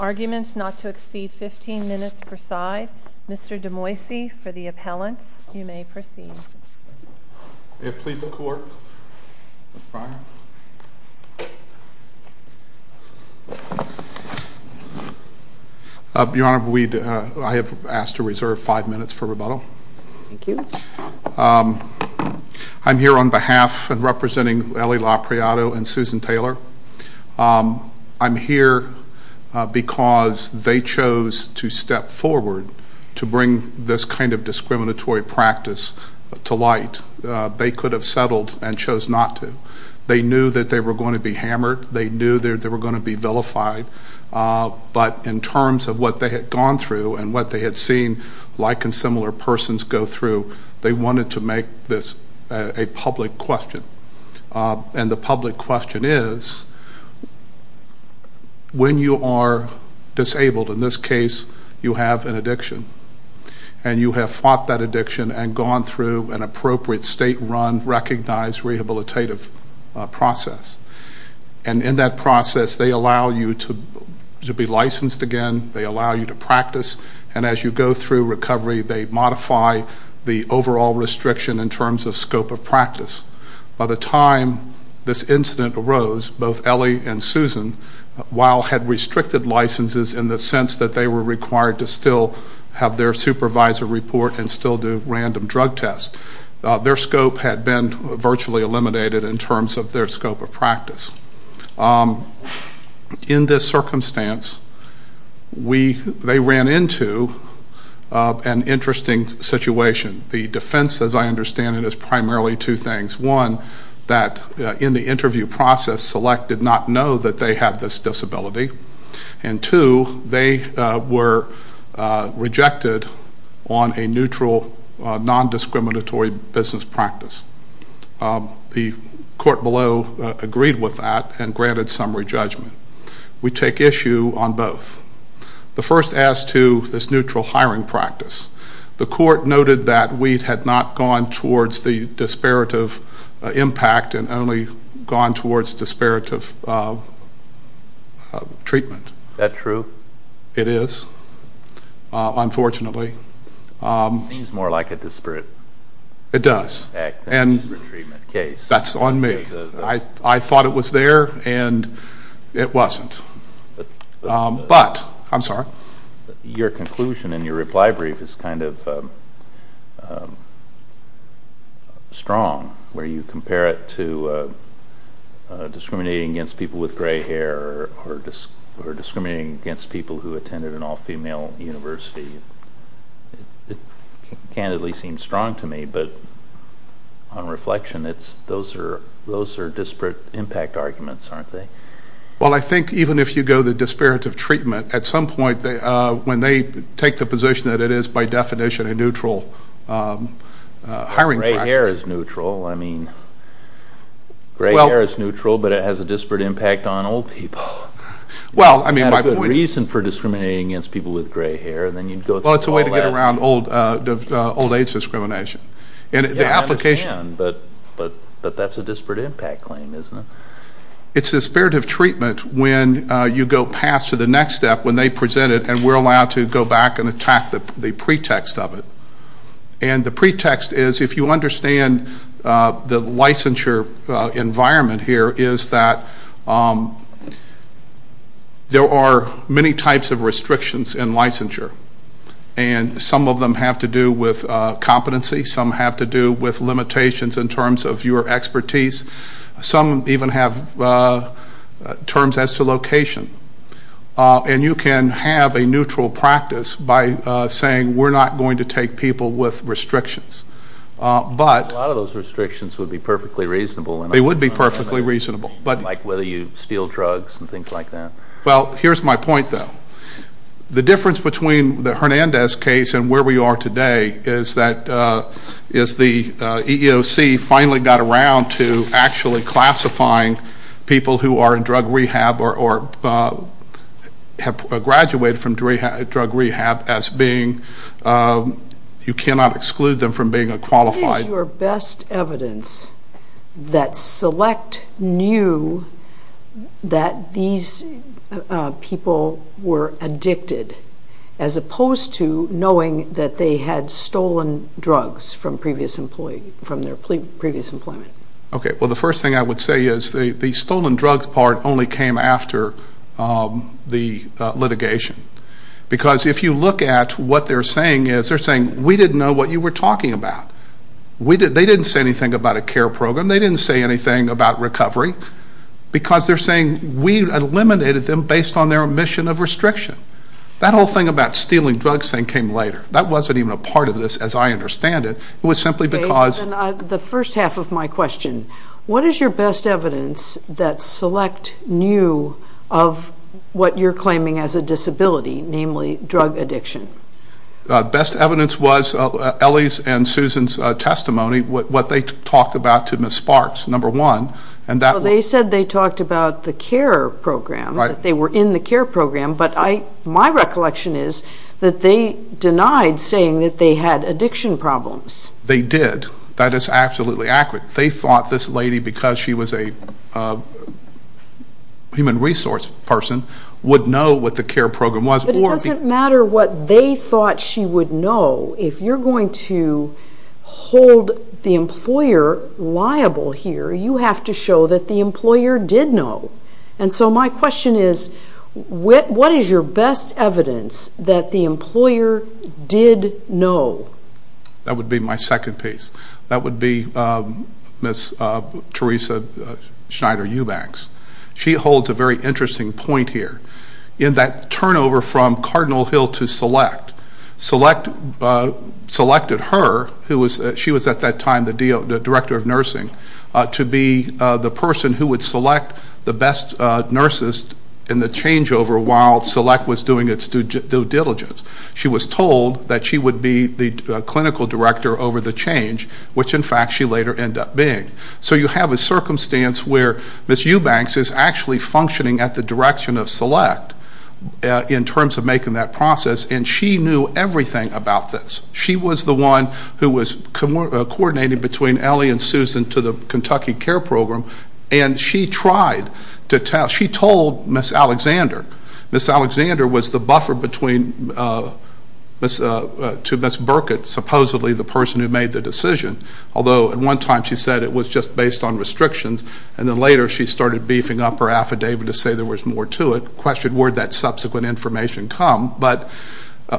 Arguments not to exceed 15 minutes per side. Mr. Demoisie, for the appellants, you may proceed. May it please the court, Mr. Pryor. Your Honor, I have asked to reserve five minutes for rebuttal. Thank you. I'm here on behalf of representing Eley Lopreato and Susan Taylor. I'm here because they chose to step forward to bring this kind of discriminatory practice to light. They could have settled and chose not to. They knew that they were going to be hammered. They knew they were going to be vilified. But in terms of what they had gone through and what they had seen like and similar persons go through, they wanted to make this a public question. And the public question is, when you are disabled, in this case you have an addiction, and you have fought that addiction and gone through an appropriate state-run, recognized rehabilitative process. And in that process, they allow you to be licensed again. They allow you to practice. And as you go through recovery, they modify the overall restriction in terms of scope of practice. By the time this incident arose, both Eley and Susan, while had restricted licenses in the sense that they were required to still have their supervisor report and still do random drug tests. Their scope had been virtually eliminated in terms of their scope of practice. In this circumstance, they ran into an interesting situation. The defense, as I understand it, is primarily two things. One, that in the interview process, Select did not know that they had this disability. And two, they were rejected on a neutral, non-discriminatory business practice. The court below agreed with that and granted summary judgment. We take issue on both. The first as to this neutral hiring practice. The court noted that Weed had not gone towards the disparative impact and only gone towards disparative treatment. Is that true? It is, unfortunately. It seems more like a disparate impact than a disparate treatment case. That's on me. I thought it was there, and it wasn't. But, I'm sorry? Your conclusion in your reply brief is kind of strong, where you compare it to discriminating against people with gray hair or discriminating against people who attended an all-female university. It candidly seems strong to me, but on reflection, those are disparate impact arguments, aren't they? Well, I think even if you go the disparative treatment, at some point when they take the position that it is, by definition, a neutral hiring practice. Gray hair is neutral. I mean, gray hair is neutral, but it has a disparate impact on old people. Well, I mean, my point is It's not a good reason for discriminating against people with gray hair. Well, it's a way to get around old age discrimination. I understand, but that's a disparate impact claim, isn't it? It's a disparative treatment when you go past to the next step, when they present it and we're allowed to go back and attack the pretext of it. And the pretext is, if you understand the licensure environment here, is that there are many types of restrictions in licensure. And some of them have to do with competency. Some have to do with limitations in terms of your expertise. Some even have terms as to location. And you can have a neutral practice by saying, we're not going to take people with restrictions. A lot of those restrictions would be perfectly reasonable. They would be perfectly reasonable. Like whether you steal drugs and things like that. Well, here's my point, though. The difference between the Hernandez case and where we are today is that the EEOC finally got around to actually classifying people who are in drug rehab or have graduated from drug rehab as being, you cannot exclude them from being a qualified. What is your best evidence that select knew that these people were addicted, as opposed to knowing that they had stolen drugs from their previous employment? Okay. Well, the first thing I would say is the stolen drugs part only came after the litigation. Because if you look at what they're saying, they're saying we didn't know what you were talking about. They didn't say anything about a care program. They didn't say anything about recovery. Because they're saying we eliminated them based on their omission of restriction. That whole thing about stealing drugs thing came later. That wasn't even a part of this as I understand it. It was simply because. The first half of my question, what is your best evidence that select knew of what you're claiming as a disability, namely drug addiction? Best evidence was Ellie's and Susan's testimony, what they talked about to Ms. Sparks, number one. They said they talked about the care program, that they were in the care program. But my recollection is that they denied saying that they had addiction problems. They did. That is absolutely accurate. They thought this lady, because she was a human resource person, would know what the care program was. But it doesn't matter what they thought she would know. If you're going to hold the employer liable here, you have to show that the employer did know. And so my question is, what is your best evidence that the employer did know? That would be my second piece. That would be Ms. Theresa Schneider-Eubanks. She holds a very interesting point here. In that turnover from Cardinal Hill to Select, Select selected her, she was at that time the Director of Nursing, to be the person who would select the best nurses in the changeover while Select was doing its due diligence. She was told that she would be the clinical director over the change, which, in fact, she later ended up being. So you have a circumstance where Ms. Eubanks is actually functioning at the direction of Select in terms of making that process. And she knew everything about this. She was the one who was coordinating between Ellie and Susan to the Kentucky Care Program. And she tried to tell. She told Ms. Alexander. Ms. Alexander was the buffer to Ms. Burkett, supposedly the person who made the decision, although at one time she said it was just based on restrictions. And then later she started beefing up her affidavit to say there was more to it. The question, where did that subsequent information come? But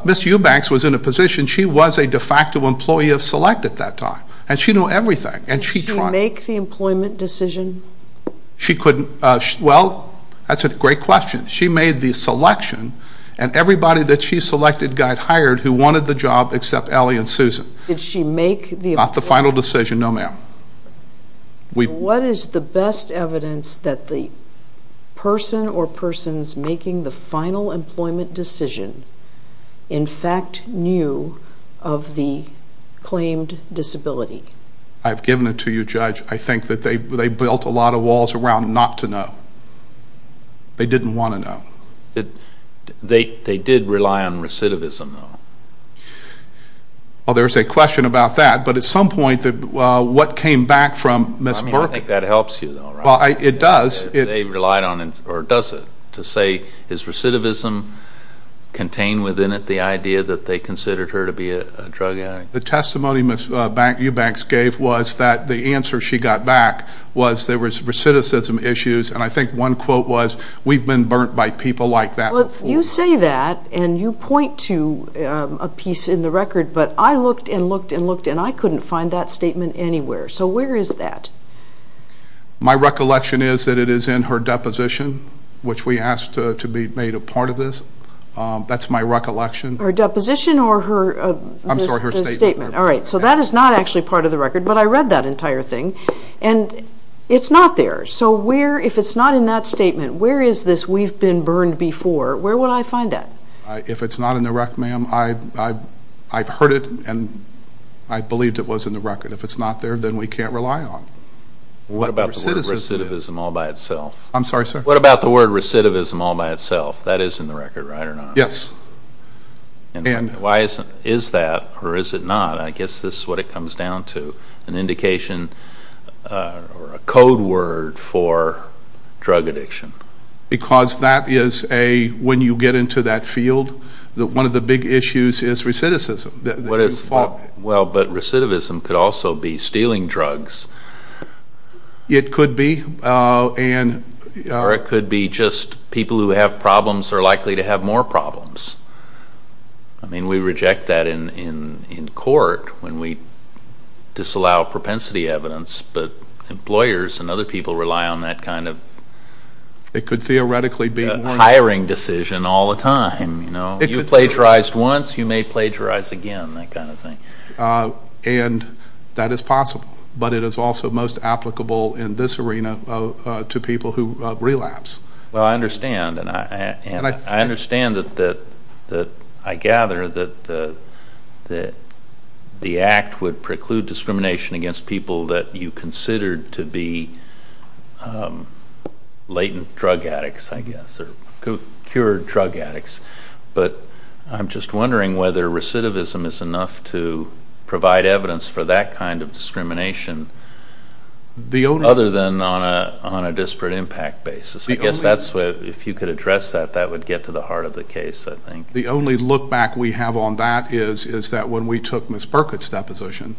Ms. Eubanks was in a position. She was a de facto employee of Select at that time. And she knew everything. And she tried. Did she make the employment decision? She couldn't. Well, that's a great question. She made the selection. And everybody that she selected got hired who wanted the job except Ellie and Susan. Did she make the employment decision? Not the final decision, no, ma'am. What is the best evidence that the person or persons making the final employment decision, in fact, knew of the claimed disability? I've given it to you, Judge. I think that they built a lot of walls around not to know. They didn't want to know. They did rely on recidivism, though. Well, there's a question about that. But at some point, what came back from Ms. Burke? I mean, I think that helps you, though, right? It does. They relied on it, or does it, to say is recidivism contained within it, the idea that they considered her to be a drug addict? The testimony Ms. Eubanks gave was that the answer she got back was there was recidivism issues. And I think one quote was, we've been burnt by people like that before. You say that, and you point to a piece in the record. But I looked and looked and looked, and I couldn't find that statement anywhere. So where is that? My recollection is that it is in her deposition, which we asked to be made a part of this. That's my recollection. Her deposition or her statement? I'm sorry, her statement. All right. So that is not actually part of the record, but I read that entire thing. And it's not there. So if it's not in that statement, where is this we've been burned before, where would I find that? If it's not in the record, ma'am, I've heard it and I believed it was in the record. If it's not there, then we can't rely on it. What about the word recidivism all by itself? I'm sorry, sir? What about the word recidivism all by itself? That is in the record, right or not? Yes. And why is that or is it not? I guess this is what it comes down to, an indication or a code word for drug addiction. Because that is a, when you get into that field, one of the big issues is recidivism. Well, but recidivism could also be stealing drugs. It could be. Or it could be just people who have problems are likely to have more problems. I mean, we reject that in court when we disallow propensity evidence, but employers and other people rely on that kind of hiring decision all the time. You know, you plagiarized once, you may plagiarize again, that kind of thing. And that is possible. But it is also most applicable in this arena to people who relapse. Well, I understand, and I understand that I gather that the act would preclude discrimination against people that you considered to be latent drug addicts, I guess, or cured drug addicts. But I'm just wondering whether recidivism is enough to provide evidence for that kind of discrimination other than on a disparate impact basis. I guess that's where, if you could address that, that would get to the heart of the case, I think. The only look back we have on that is that when we took Ms. Burkitt's deposition,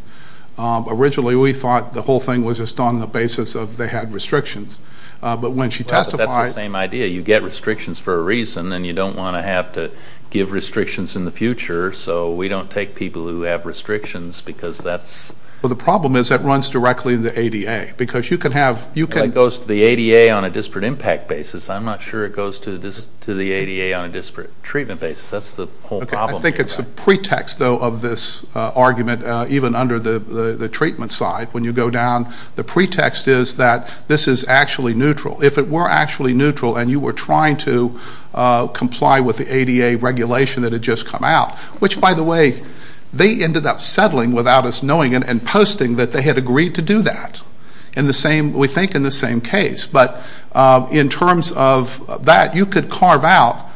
originally we thought the whole thing was just on the basis of they had restrictions. But when she testified – Well, but that's the same idea. You get restrictions for a reason, and you don't want to have to give restrictions in the future, so we don't take people who have restrictions because that's – Well, the problem is that runs directly into ADA, because you can have – I think that goes to the ADA on a disparate impact basis. I'm not sure it goes to the ADA on a disparate treatment basis. That's the whole problem. I think it's a pretext, though, of this argument, even under the treatment side. When you go down, the pretext is that this is actually neutral. If it were actually neutral and you were trying to comply with the ADA regulation that had just come out, which, by the way, they ended up settling without us knowing and posting that they had agreed to do that. We think in the same case. But in terms of that, you could carve out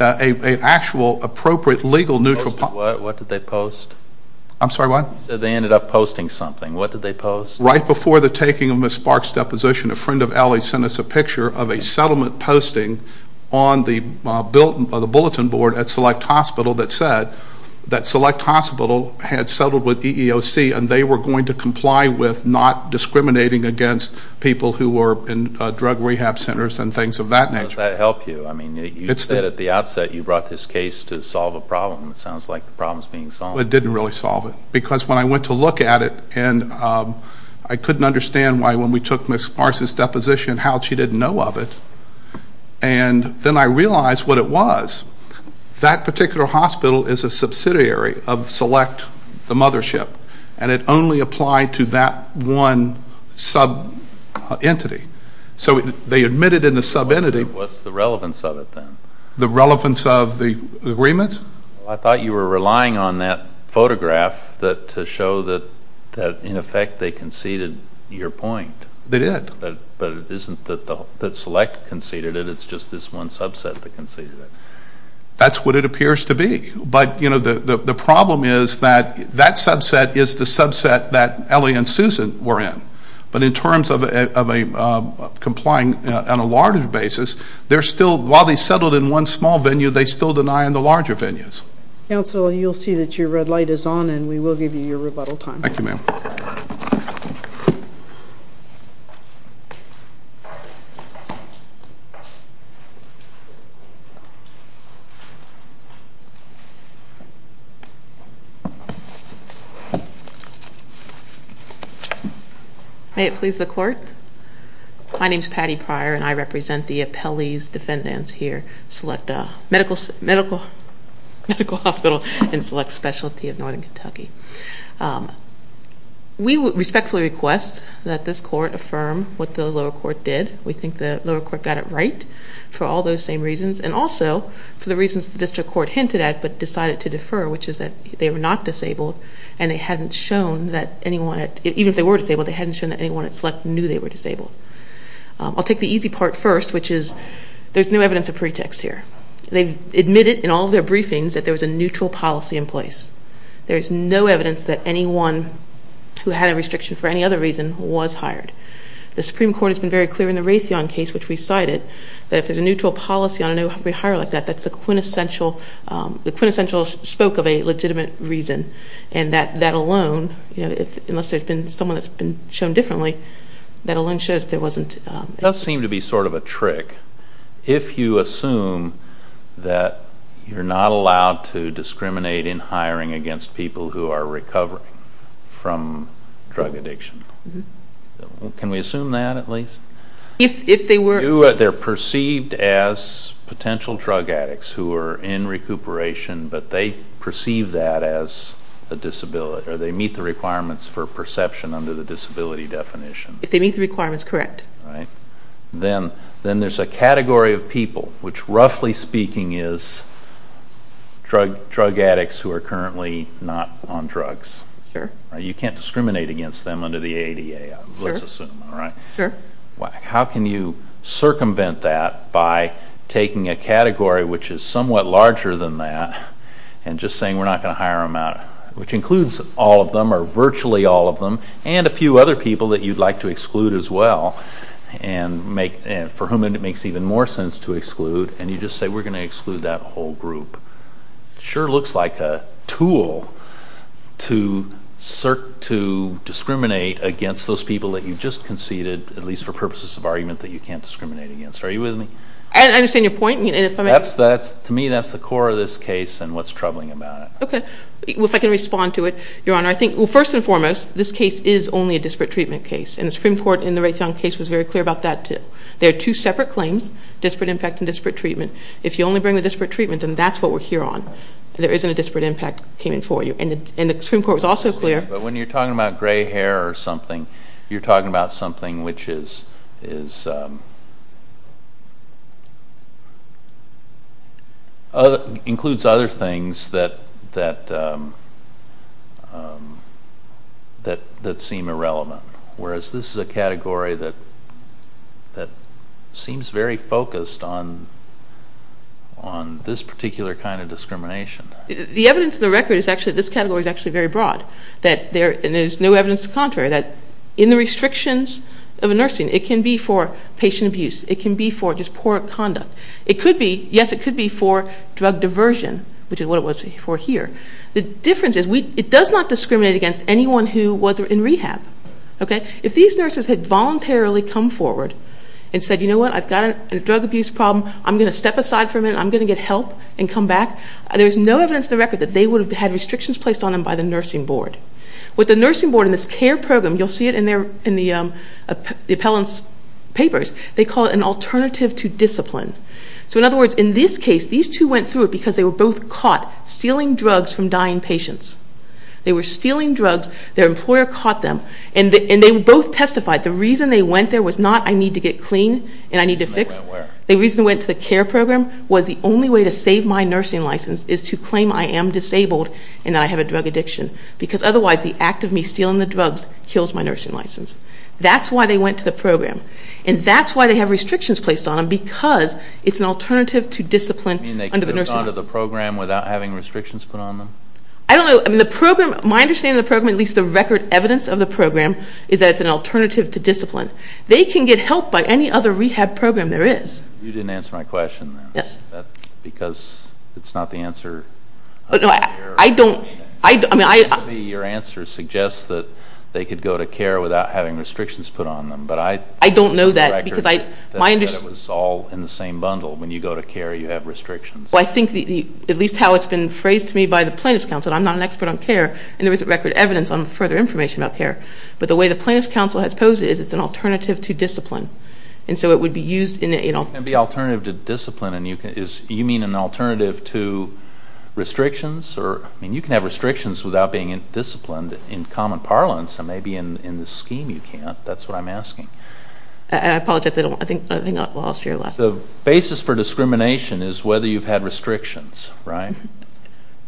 an actual appropriate legal neutral – What did they post? I'm sorry, what? You said they ended up posting something. What did they post? Right before the taking of Ms. Sparks' deposition, a friend of Ellie's sent us a picture of a settlement posting on the bulletin board at Select Hospital that said that Select Hospital had settled with EEOC and they were going to comply with not discriminating against people who were in drug rehab centers and things of that nature. How does that help you? You said at the outset you brought this case to solve a problem. It sounds like the problem is being solved. It didn't really solve it. Because when I went to look at it, I couldn't understand why when we took Ms. Sparks' deposition, how she didn't know of it. And then I realized what it was. That particular hospital is a subsidiary of Select, the mothership, and it only applied to that one sub-entity. So they admitted in the sub-entity – What's the relevance of it then? The relevance of the agreement? I thought you were relying on that photograph to show that, in effect, they conceded your point. They did. But it isn't that Select conceded it. It's just this one subset that conceded it. That's what it appears to be. But, you know, the problem is that that subset is the subset that Ellie and Susan were in. But in terms of complying on a larger basis, while they settled in one small venue, they still deny in the larger venues. Counsel, you'll see that your red light is on, and we will give you your rebuttal time. Thank you, ma'am. Thank you. May it please the Court. My name is Patty Pryor, and I represent the appellee's defendants here, Select Medical Hospital and Select Specialty of Northern Kentucky. We respectfully request that this Court affirm what the lower court did. We think the lower court got it right for all those same reasons, and also for the reasons the district court hinted at but decided to defer, which is that they were not disabled, and they hadn't shown that anyone at – even if they were disabled, they hadn't shown that anyone at Select knew they were disabled. I'll take the easy part first, which is there's no evidence of pretext here. They've admitted in all of their briefings that there was a neutral policy in place. There's no evidence that anyone who had a restriction for any other reason was hired. The Supreme Court has been very clear in the Raytheon case, which we cited, that if there's a neutral policy on a no-hire like that, that's the quintessential spoke of a legitimate reason, and that alone, unless there's been someone that's been shown differently, that alone shows there wasn't. It does seem to be sort of a trick if you assume that you're not allowed to discriminate in hiring against people who are recovering from drug addiction. Can we assume that, at least? They're perceived as potential drug addicts who are in recuperation, but they perceive that as a disability, or they meet the requirements for perception under the disability definition. If they meet the requirements, correct. Then there's a category of people, which roughly speaking is drug addicts who are currently not on drugs. Sure. You can't discriminate against them under the ADA, let's assume. Sure. How can you circumvent that by taking a category which is somewhat larger than that and just saying we're not going to hire them out, which includes all of them or virtually all of them and a few other people that you'd like to exclude as well, for whom it makes even more sense to exclude, and you just say we're going to exclude that whole group? It sure looks like a tool to discriminate against those people that you just conceded, at least for purposes of argument, that you can't discriminate against. Are you with me? I understand your point. To me, that's the core of this case and what's troubling about it. Okay. If I can respond to it, Your Honor, I think first and foremost, this case is only a disparate treatment case, and the Supreme Court in the Raytheon case was very clear about that too. There are two separate claims, disparate impact and disparate treatment. If you only bring the disparate treatment, then that's what we're here on. There isn't a disparate impact payment for you, and the Supreme Court was also clear. But when you're talking about gray hair or something, you're talking about something which includes other things that seem irrelevant, whereas this is a category that seems very focused on this particular kind of discrimination. The evidence of the record is actually that this category is actually very broad, and there's no evidence to the contrary, that in the restrictions of a nursing, it can be for patient abuse. It can be for just poor conduct. Yes, it could be for drug diversion, which is what it was for here. The difference is it does not discriminate against anyone who was in rehab. If these nurses had voluntarily come forward and said, you know what, I've got a drug abuse problem, I'm going to step aside for a minute, I'm going to get help and come back, there's no evidence of the record that they would have had restrictions placed on them by the nursing board. With the nursing board in this care program, you'll see it in the appellant's papers, they call it an alternative to discipline. So in other words, in this case, these two went through it because they were both caught stealing drugs from dying patients. They were stealing drugs, their employer caught them, and they both testified. The reason they went there was not, I need to get clean and I need to fix. The reason they went to the care program was the only way to save my nursing license is to claim I am disabled and that I have a drug addiction, because otherwise the act of me stealing the drugs kills my nursing license. That's why they went to the program. And that's why they have restrictions placed on them, because it's an alternative to discipline under the nursing license. You mean they could have gone to the program without having restrictions put on them? I don't know. My understanding of the program, at least the record evidence of the program, is that it's an alternative to discipline. They can get help by any other rehab program there is. You didn't answer my question. Yes. Is that because it's not the answer? No, I don't. Your answer suggests that they could go to care without having restrictions put on them. I don't know that. It was all in the same bundle. When you go to care, you have restrictions. Well, I think, at least how it's been phrased to me by the plaintiff's counsel, I'm not an expert on care, and there isn't record evidence on further information about care. But the way the plaintiff's counsel has posed it is it's an alternative to discipline. And so it would be used in an alternative to discipline. You mean an alternative to restrictions? I mean, you can have restrictions without being disciplined in common parlance, and maybe in this scheme you can't. That's what I'm asking. I apologize. I think I lost your last question. The basis for discrimination is whether you've had restrictions, right?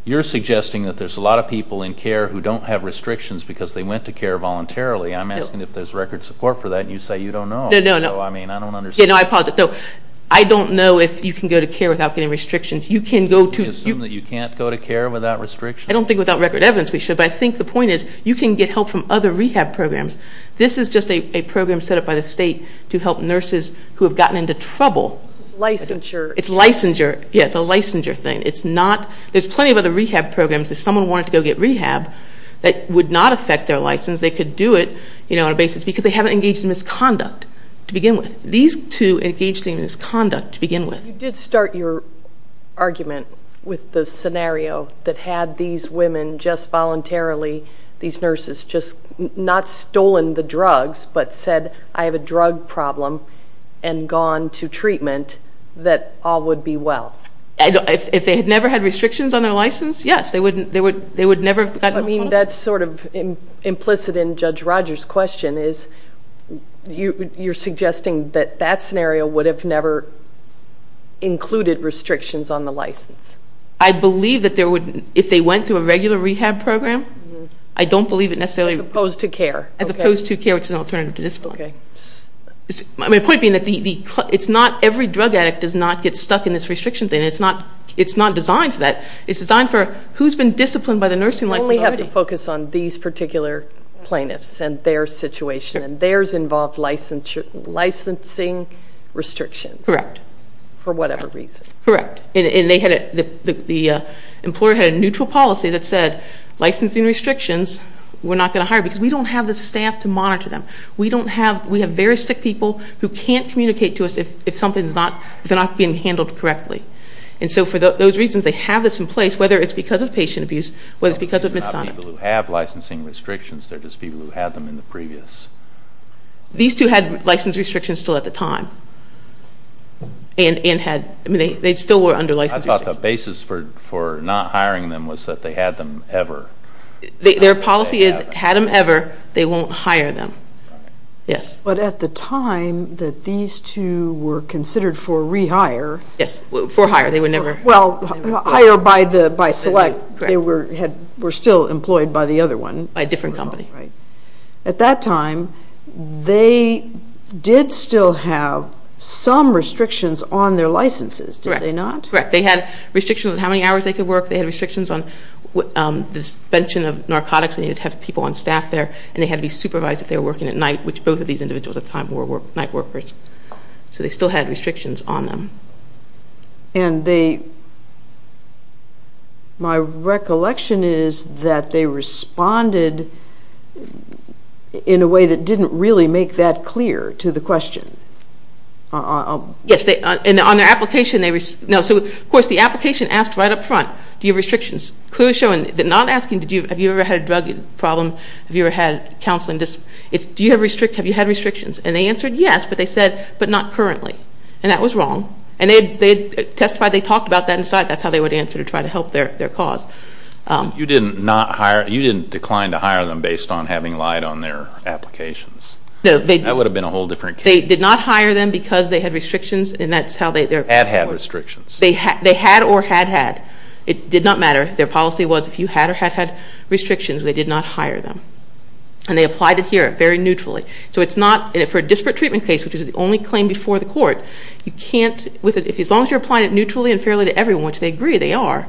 You're suggesting that there's a lot of people in care who don't have restrictions because they went to care voluntarily. I'm asking if there's record support for that, and you say you don't know. No, no, no. I mean, I don't understand. Yeah, no, I apologize. No, I don't know if you can go to care without getting restrictions. You can go to. Can you assume that you can't go to care without restrictions? I don't think without record evidence we should. But I think the point is you can get help from other rehab programs. This is just a program set up by the state to help nurses who have gotten into trouble. This is licensure. It's licensure. Yeah, it's a licensure thing. It's not. There's plenty of other rehab programs. If someone wanted to go get rehab that would not affect their license, they could do it on a basis because they haven't engaged in misconduct to begin with. These two engaged in misconduct to begin with. You did start your argument with the scenario that had these women just voluntarily, these nurses just not stolen the drugs but said, I have a drug problem and gone to treatment, that all would be well. If they had never had restrictions on their license, yes. They would never have gotten involved. I mean, that's sort of implicit in Judge Rogers' question is you're suggesting that that scenario would have never included restrictions on the license. I believe that if they went through a regular rehab program, I don't believe it necessarily. As opposed to care. As opposed to care, which is an alternative to discipline. Okay. My point being that it's not every drug addict does not get stuck in this restriction thing. It's not designed for that. It's designed for who's been disciplined by the nursing license already. You only have to focus on these particular plaintiffs and their situation. And theirs involved licensing restrictions. Correct. For whatever reason. Correct. And the employer had a neutral policy that said licensing restrictions, we're not going to hire because we don't have the staff to monitor them. We have very sick people who can't communicate to us if they're not being handled correctly. And so for those reasons, they have this in place, whether it's because of patient abuse, whether it's because of misconduct. Not people who have licensing restrictions. They're just people who had them in the previous. These two had license restrictions still at the time. And had. I mean, they still were under license restrictions. I thought the basis for not hiring them was that they had them ever. Their policy is had them ever, they won't hire them. Yes. But at the time that these two were considered for rehire. Yes. For hire. They were never. Well, hire by select. Correct. They were still employed by the other one. By a different company. Right. At that time, they did still have some restrictions on their licenses, did they not? Correct. Correct. They had restrictions on how many hours they could work. They had restrictions on the suspension of narcotics. They needed to have people on staff there. And they had to be supervised if they were working at night, which both of these individuals at the time were night workers. So they still had restrictions on them. And they, my recollection is that they responded in a way that didn't really make that clear to the question. Yes. And on their application, they, no. So, of course, the application asked right up front, do you have restrictions? Clearly showing, not asking, have you ever had a drug problem? Have you ever had counseling? It's, do you have restrictions? And they answered yes, but they said, but not currently. And that was wrong. And they testified they talked about that and decided that's how they would answer to try to help their cause. You didn't not hire, you didn't decline to hire them based on having lied on their applications? No. That would have been a whole different case. They did not hire them because they had restrictions and that's how they... Had had restrictions. They had or had had. It did not matter. Their policy was if you had or had had restrictions, they did not hire them. And they applied it here, very neutrally. So it's not, for a disparate treatment case, which is the only claim before the court, you can't, as long as you're applying it neutrally and fairly to everyone, which they agree they are,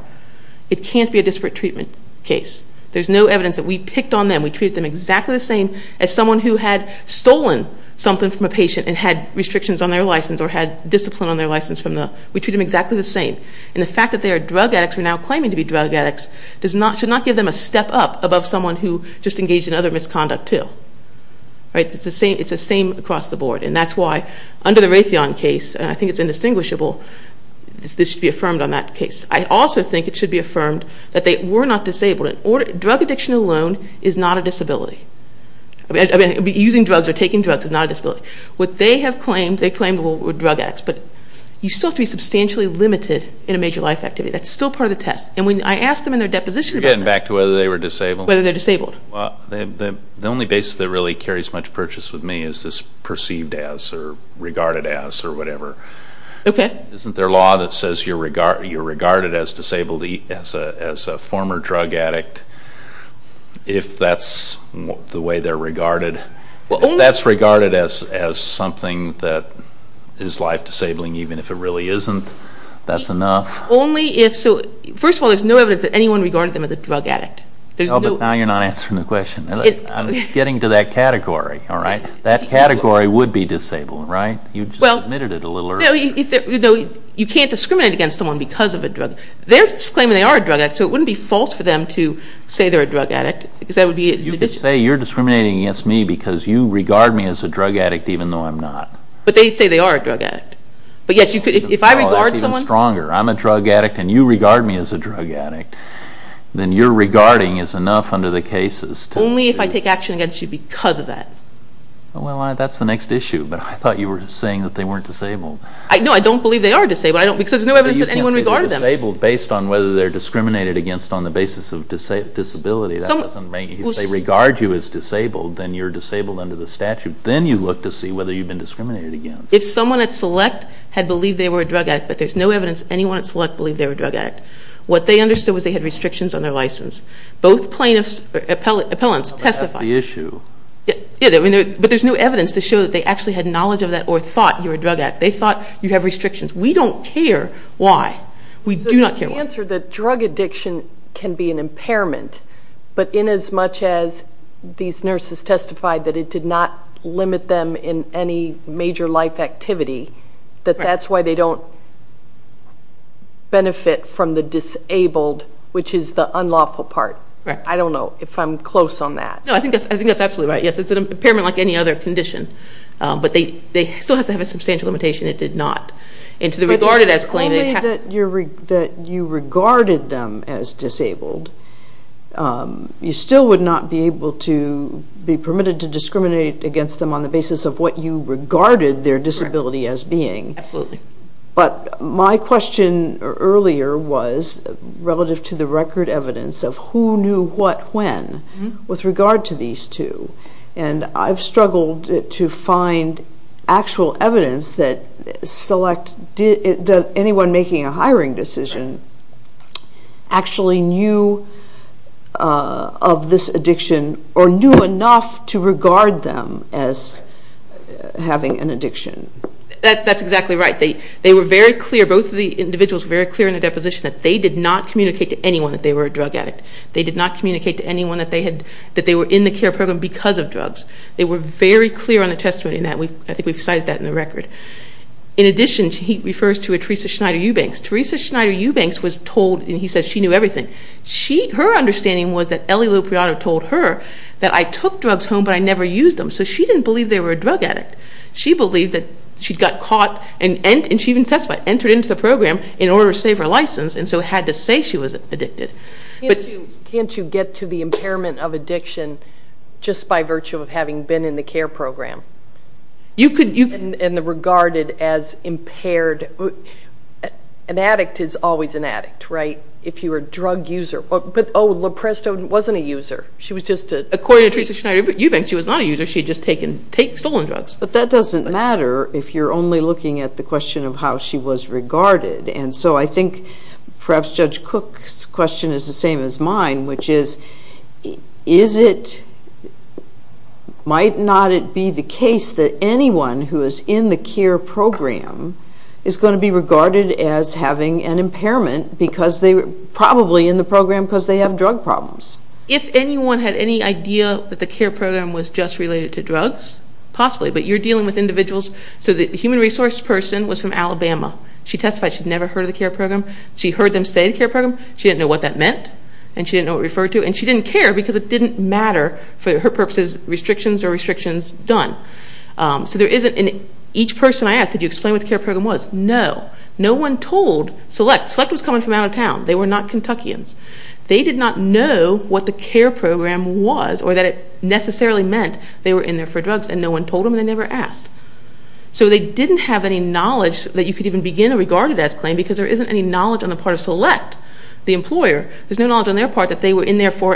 it can't be a disparate treatment case. There's no evidence that we picked on them. We treated them exactly the same as someone who had stolen something from a patient and had restrictions on their license or had discipline on their license from the... We treat them exactly the same. And the fact that they are drug addicts who are now claiming to be drug addicts should not give them a step up above someone who just engaged in other misconduct too. Right? It's the same across the board. And that's why, under the Raytheon case, and I think it's indistinguishable, this should be affirmed on that case. I also think it should be affirmed that they were not disabled. Drug addiction alone is not a disability. Using drugs or taking drugs is not a disability. What they have claimed, they claim were drug addicts. But you still have to be substantially limited in a major life activity. That's still part of the test. And when I asked them in their deposition about that... You're getting back to whether they were disabled. Whether they're disabled. The only basis that really carries much purchase with me is this perceived as or regarded as or whatever. Okay. Isn't there a law that says you're regarded as a former drug addict if that's the way they're regarded? If that's regarded as something that is life-disabling, even if it really isn't, that's enough? Only if... First of all, there's no evidence that anyone regarded them as a drug addict. Oh, but now you're not answering the question. I'm getting to that category. That category would be disabled, right? You just admitted it a little earlier. You can't discriminate against someone because of a drug. They're claiming they are a drug addict, so it wouldn't be false for them to say they're a drug addict. You could say you're discriminating against me because you regard me as a drug addict even though I'm not. But they say they are a drug addict. If I regard someone... That's even stronger. I'm a drug addict and you regard me as a drug addict. Then your regarding is enough under the cases... Only if I take action against you because of that. Well, that's the next issue. But I thought you were saying that they weren't disabled. No, I don't believe they are disabled. There's no evidence that anyone regarded them. You can't say they're disabled based on whether they're discriminated against on the basis of disability. If they regard you as disabled, then you're disabled under the statute. Then you look to see whether you've been discriminated against. If someone at select had believed they were a drug addict, but there's no evidence anyone at select believed they were a drug addict, what they understood was they had restrictions on their license. Both plaintiffs or appellants testified. But that's the issue. But there's no evidence to show that they actually had knowledge of that or thought you were a drug addict. They thought you have restrictions. We don't care why. We do not care why. The answer is that drug addiction can be an impairment, but inasmuch as these nurses testified that it did not limit them in any major life activity, that that's why they don't benefit from the disabled, which is the unlawful part. I don't know if I'm close on that. No, I think that's absolutely right. Yes, it's an impairment like any other condition. But it still has to have a substantial limitation. It did not. And to the regarded as claim, it has to be. But even though you regarded them as disabled, you still would not be able to be permitted to discriminate against them on the basis of what you regarded their disability as being. Absolutely. But my question earlier was relative to the record evidence of who knew what when with regard to these two. And I've struggled to find actual evidence that anyone making a hiring decision actually knew of this addiction or knew enough to regard them as having an addiction. That's exactly right. They were very clear. Both of the individuals were very clear in the deposition that they did not communicate to anyone that they were a drug addict. They did not communicate to anyone that they were in the care program because of drugs. They were very clear on the testimony. I think we've cited that in the record. In addition, he refers to a Teresa Schneider Eubanks. Teresa Schneider Eubanks was told, and he said she knew everything. Her understanding was that Ellie Lupriotto told her that I took drugs home but I never used them. So she didn't believe they were a drug addict. She believed that she got caught and she even testified, entered into the program in order to save her license and so had to say she was addicted. Can't you get to the impairment of addiction just by virtue of having been in the care program? And regarded as impaired. An addict is always an addict, right? If you're a drug user. But oh, Lupriotto wasn't a user. According to Teresa Schneider Eubanks, she was not a user. She had just stolen drugs. But that doesn't matter if you're only looking at the question of how she was regarded. And so I think perhaps Judge Cook's question is the same as mine, which is might not it be the case that anyone who is in the care program is going to be regarded as having an impairment probably in the program because they have drug problems. If anyone had any idea that the care program was just related to drugs, possibly, but you're dealing with individuals. So the human resource person was from Alabama. She testified she'd never heard of the care program. She heard them say the care program. She didn't know what that meant and she didn't know what it referred to, and she didn't care because it didn't matter for her purposes, restrictions are restrictions, done. So there isn't an each person I asked, did you explain what the care program was? No. No one told Select. Select was coming from out of town. They were not Kentuckians. They did not know what the care program was or that it necessarily meant they were in there for drugs and no one told them and they never asked. So they didn't have any knowledge that you could even begin a regarded as claim because there isn't any knowledge on the part of Select, the employer. There's no knowledge on their part that they were in there for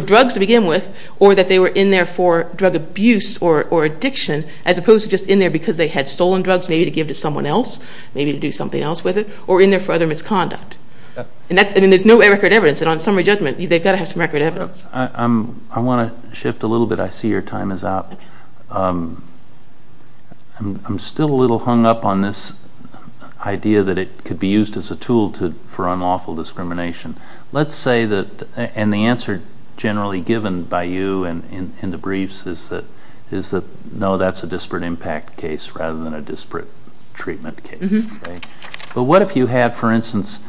drugs to begin with or that they were in there for drug abuse or addiction as opposed to just in there because they had stolen drugs maybe to give to someone else, maybe to do something else with it, or in there for other misconduct. And there's no record evidence, and on summary judgment, they've got to have some record evidence. I want to shift a little bit. I see your time is up. I'm still a little hung up on this idea that it could be used as a tool for unlawful discrimination. Let's say that, and the answer generally given by you in the briefs is that no, that's a disparate impact case rather than a disparate treatment case. But what if you had, for instance,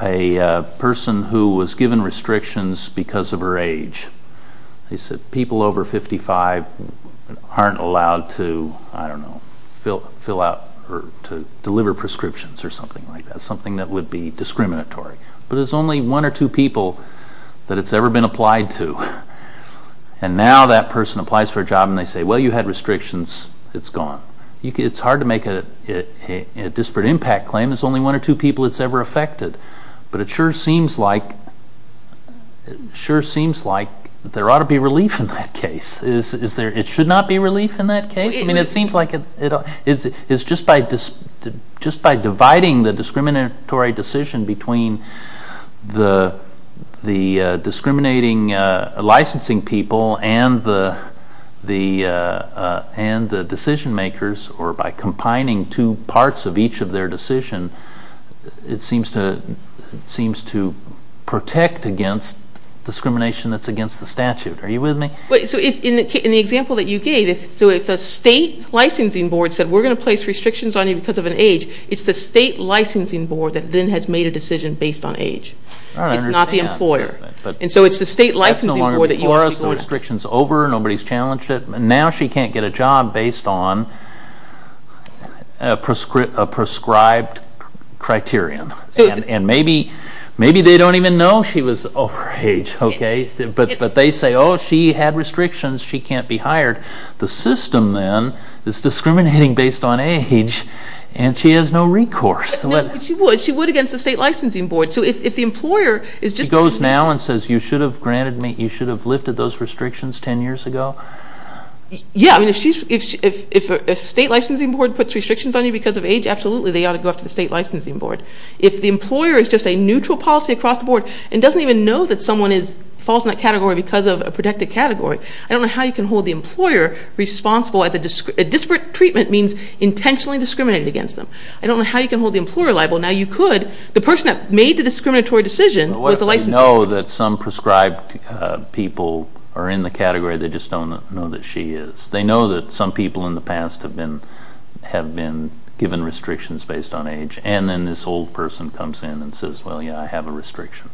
a person who was given restrictions because of her age? They said people over 55 aren't allowed to, I don't know, fill out or to deliver prescriptions or something like that, something that would be discriminatory. But there's only one or two people that it's ever been applied to, and now that person applies for a job and they say, well, you had restrictions, it's gone. It's hard to make a disparate impact claim. There's only one or two people it's ever affected. But it sure seems like there ought to be relief in that case. It should not be relief in that case. I mean, it seems like it's just by dividing the discriminatory decision between the discriminating licensing people and the decision makers, or by combining two parts of each of their decision, it seems to protect against discrimination that's against the statute. Are you with me? So in the example that you gave, if a state licensing board said we're going to place restrictions on you because of an age, it's the state licensing board that then has made a decision based on age. It's not the employer. And so it's the state licensing board that you ought to be going after. That's no longer before us. The restriction's over. Nobody's challenged it. Now she can't get a job based on a prescribed criterion. And maybe they don't even know she was over age, okay? But they say, oh, she had restrictions. She can't be hired. The system then is discriminating based on age, and she has no recourse. No, but she would. She would against the state licensing board. She goes now and says, you should have lifted those restrictions ten years ago? Yeah. If a state licensing board puts restrictions on you because of age, absolutely they ought to go after the state licensing board. If the employer is just a neutral policy across the board and doesn't even know that someone falls in that category because of a protected category, I don't know how you can hold the employer responsible. A disparate treatment means intentionally discriminating against them. I don't know how you can hold the employer liable. Now you could. The person that made the discriminatory decision with the licensing board. What if they know that some prescribed people are in the category, they just don't know that she is? They know that some people in the past have been given restrictions based on age, and then this old person comes in and says, well, yeah, I have a restriction.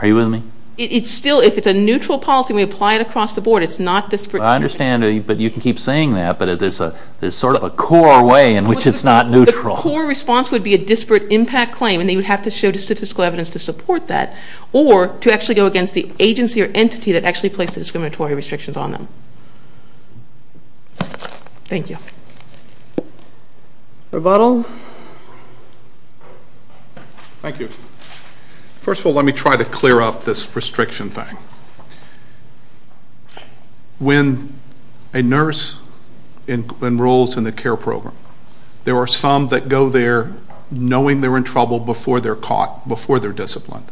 Are you with me? It's still, if it's a neutral policy and we apply it across the board, it's not disparate treatment. I understand, but you can keep saying that, but there's sort of a core way in which it's not neutral. The core response would be a disparate impact claim, and they would have to show statistical evidence to support that or to actually go against the agency or entity that actually placed the discriminatory restrictions on them. Thank you. Rebuttal. Thank you. First of all, let me try to clear up this restriction thing. When a nurse enrolls in the care program, there are some that go there knowing they're in trouble before they're caught, before they're disciplined.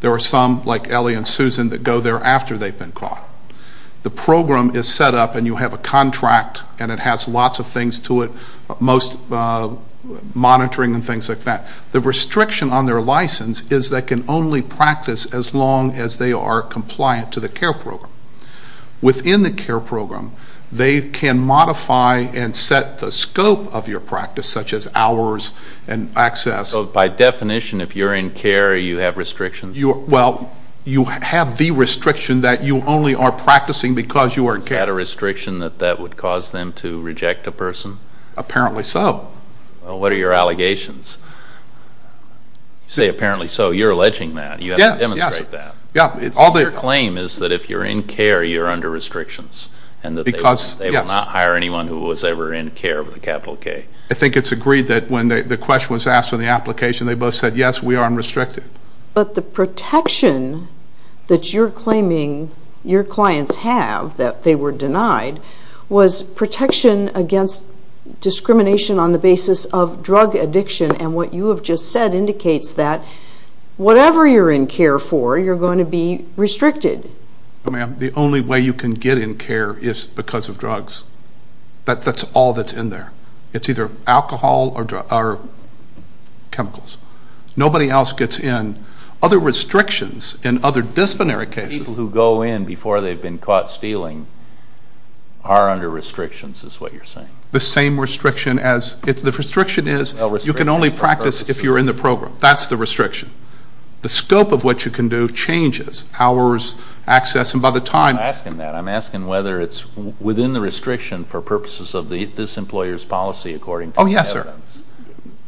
There are some, like Ellie and Susan, that go there after they've been caught. The program is set up and you have a contract, and it has lots of things to it, most monitoring and things like that. The restriction on their license is they can only practice as long as they are compliant to the care program. Within the care program, they can modify and set the scope of your practice, such as hours and access. So by definition, if you're in care, you have restrictions? Well, you have the restriction that you only are practicing because you are in care. Is that a restriction that that would cause them to reject a person? Apparently so. What are your allegations? You say apparently so. You're alleging that. You have to demonstrate that. Your claim is that if you're in care, you're under restrictions and that they will not hire anyone who was ever in care with a capital K. I think it's agreed that when the question was asked on the application, they both said, yes, we are unrestricted. But the protection that you're claiming your clients have, that they were denied, was protection against discrimination on the basis of drug addiction. And what you have just said indicates that whatever you're in care for, you're going to be restricted. No, ma'am. The only way you can get in care is because of drugs. That's all that's in there. It's either alcohol or chemicals. Nobody else gets in. Other restrictions in other disciplinary cases. The people who go in before they've been caught stealing are under restrictions is what you're saying. The same restriction as if the restriction is you can only practice if you're in the program. That's the restriction. The scope of what you can do changes. Hours, access, and by the time. I'm not asking that. I'm asking whether it's within the restriction for purposes of this employer's policy, according to the evidence. Oh, yes, sir.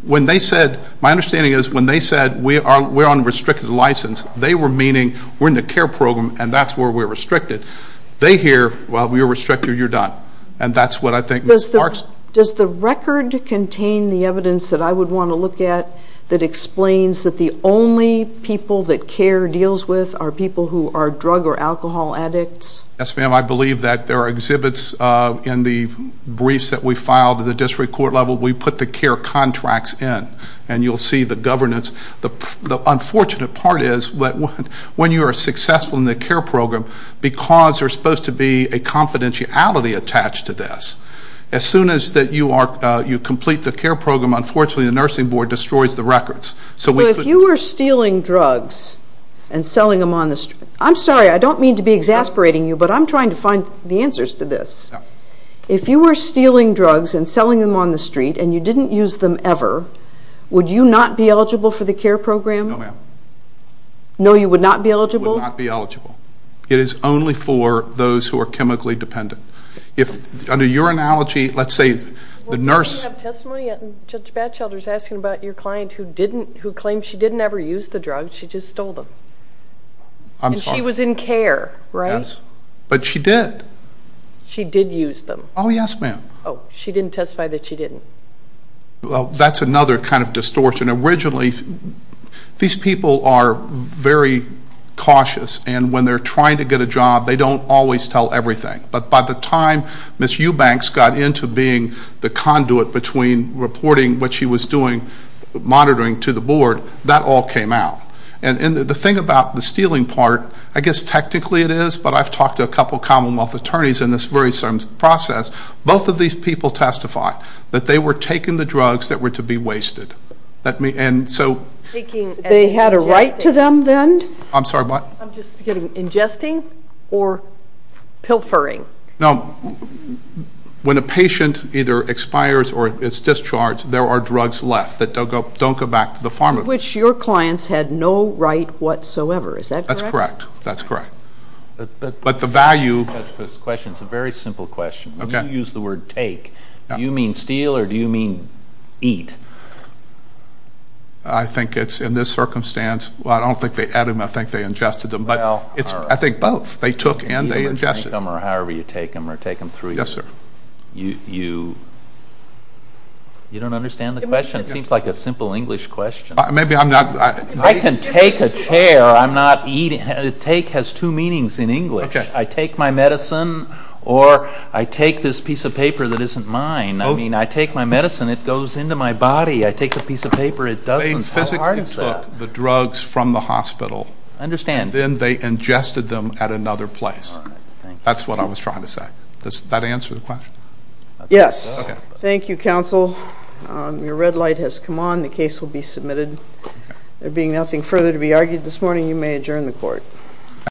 When they said, my understanding is when they said we're on a restricted license, they were meaning we're in the care program and that's where we're restricted. They hear, well, you're restricted, you're done. And that's what I think Ms. Parks. Does the record contain the evidence that I would want to look at that explains that the only people that CARE deals with are people who are drug or alcohol addicts? Yes, ma'am. I believe that there are exhibits in the briefs that we filed at the district court level. We put the CARE contracts in. And you'll see the governance. The unfortunate part is when you are successful in the CARE program, because there's supposed to be a confidentiality attached to this, as soon as you complete the CARE program, unfortunately the nursing board destroys the records. So if you were stealing drugs and selling them on the street, I'm sorry, I don't mean to be exasperating you, but I'm trying to find the answers to this. If you were stealing drugs and selling them on the street and you didn't use them ever, would you not be eligible for the CARE program? No, ma'am. No, you would not be eligible? I would not be eligible. It is only for those who are chemically dependent. Under your analogy, let's say the nurse. We don't have testimony yet. Judge Batchelder is asking about your client who claims she didn't ever use the drugs. She just stole them. I'm sorry. And she was in CARE, right? Yes, but she did. She did use them? Oh, yes, ma'am. Oh, she didn't testify that she didn't? Well, that's another kind of distortion. Originally, these people are very cautious, and when they're trying to get a job, they don't always tell everything. But by the time Ms. Eubanks got into being the conduit between reporting what she was doing, monitoring to the board, that all came out. And the thing about the stealing part, I guess technically it is, but I've talked to a couple commonwealth attorneys in this very same process. Both of these people testify that they were taking the drugs that were to be wasted. They had a right to them then? I'm sorry, what? I'm just getting, ingesting or pilfering? No, when a patient either expires or is discharged, there are drugs left that don't go back to the pharmacy. Which your clients had no right whatsoever, is that correct? That's correct, that's correct. It's a very simple question. You use the word take. Do you mean steal or do you mean eat? I think it's in this circumstance. I don't think they ate them, I think they ingested them, but I think both. They took and they ingested. Either you take them or however you take them or take them through you. Yes, sir. You don't understand the question? It seems like a simple English question. I can take a chair, I'm not eating. Take has two meanings in English. I take my medicine or I take this piece of paper that isn't mine. I take my medicine, it goes into my body. I take a piece of paper, it doesn't. They physically took the drugs from the hospital. I understand. Then they ingested them at another place. That's what I was trying to say. Does that answer the question? Yes. Thank you, counsel. Your red light has come on, the case will be submitted. There being nothing further to be argued this morning, you may adjourn the court.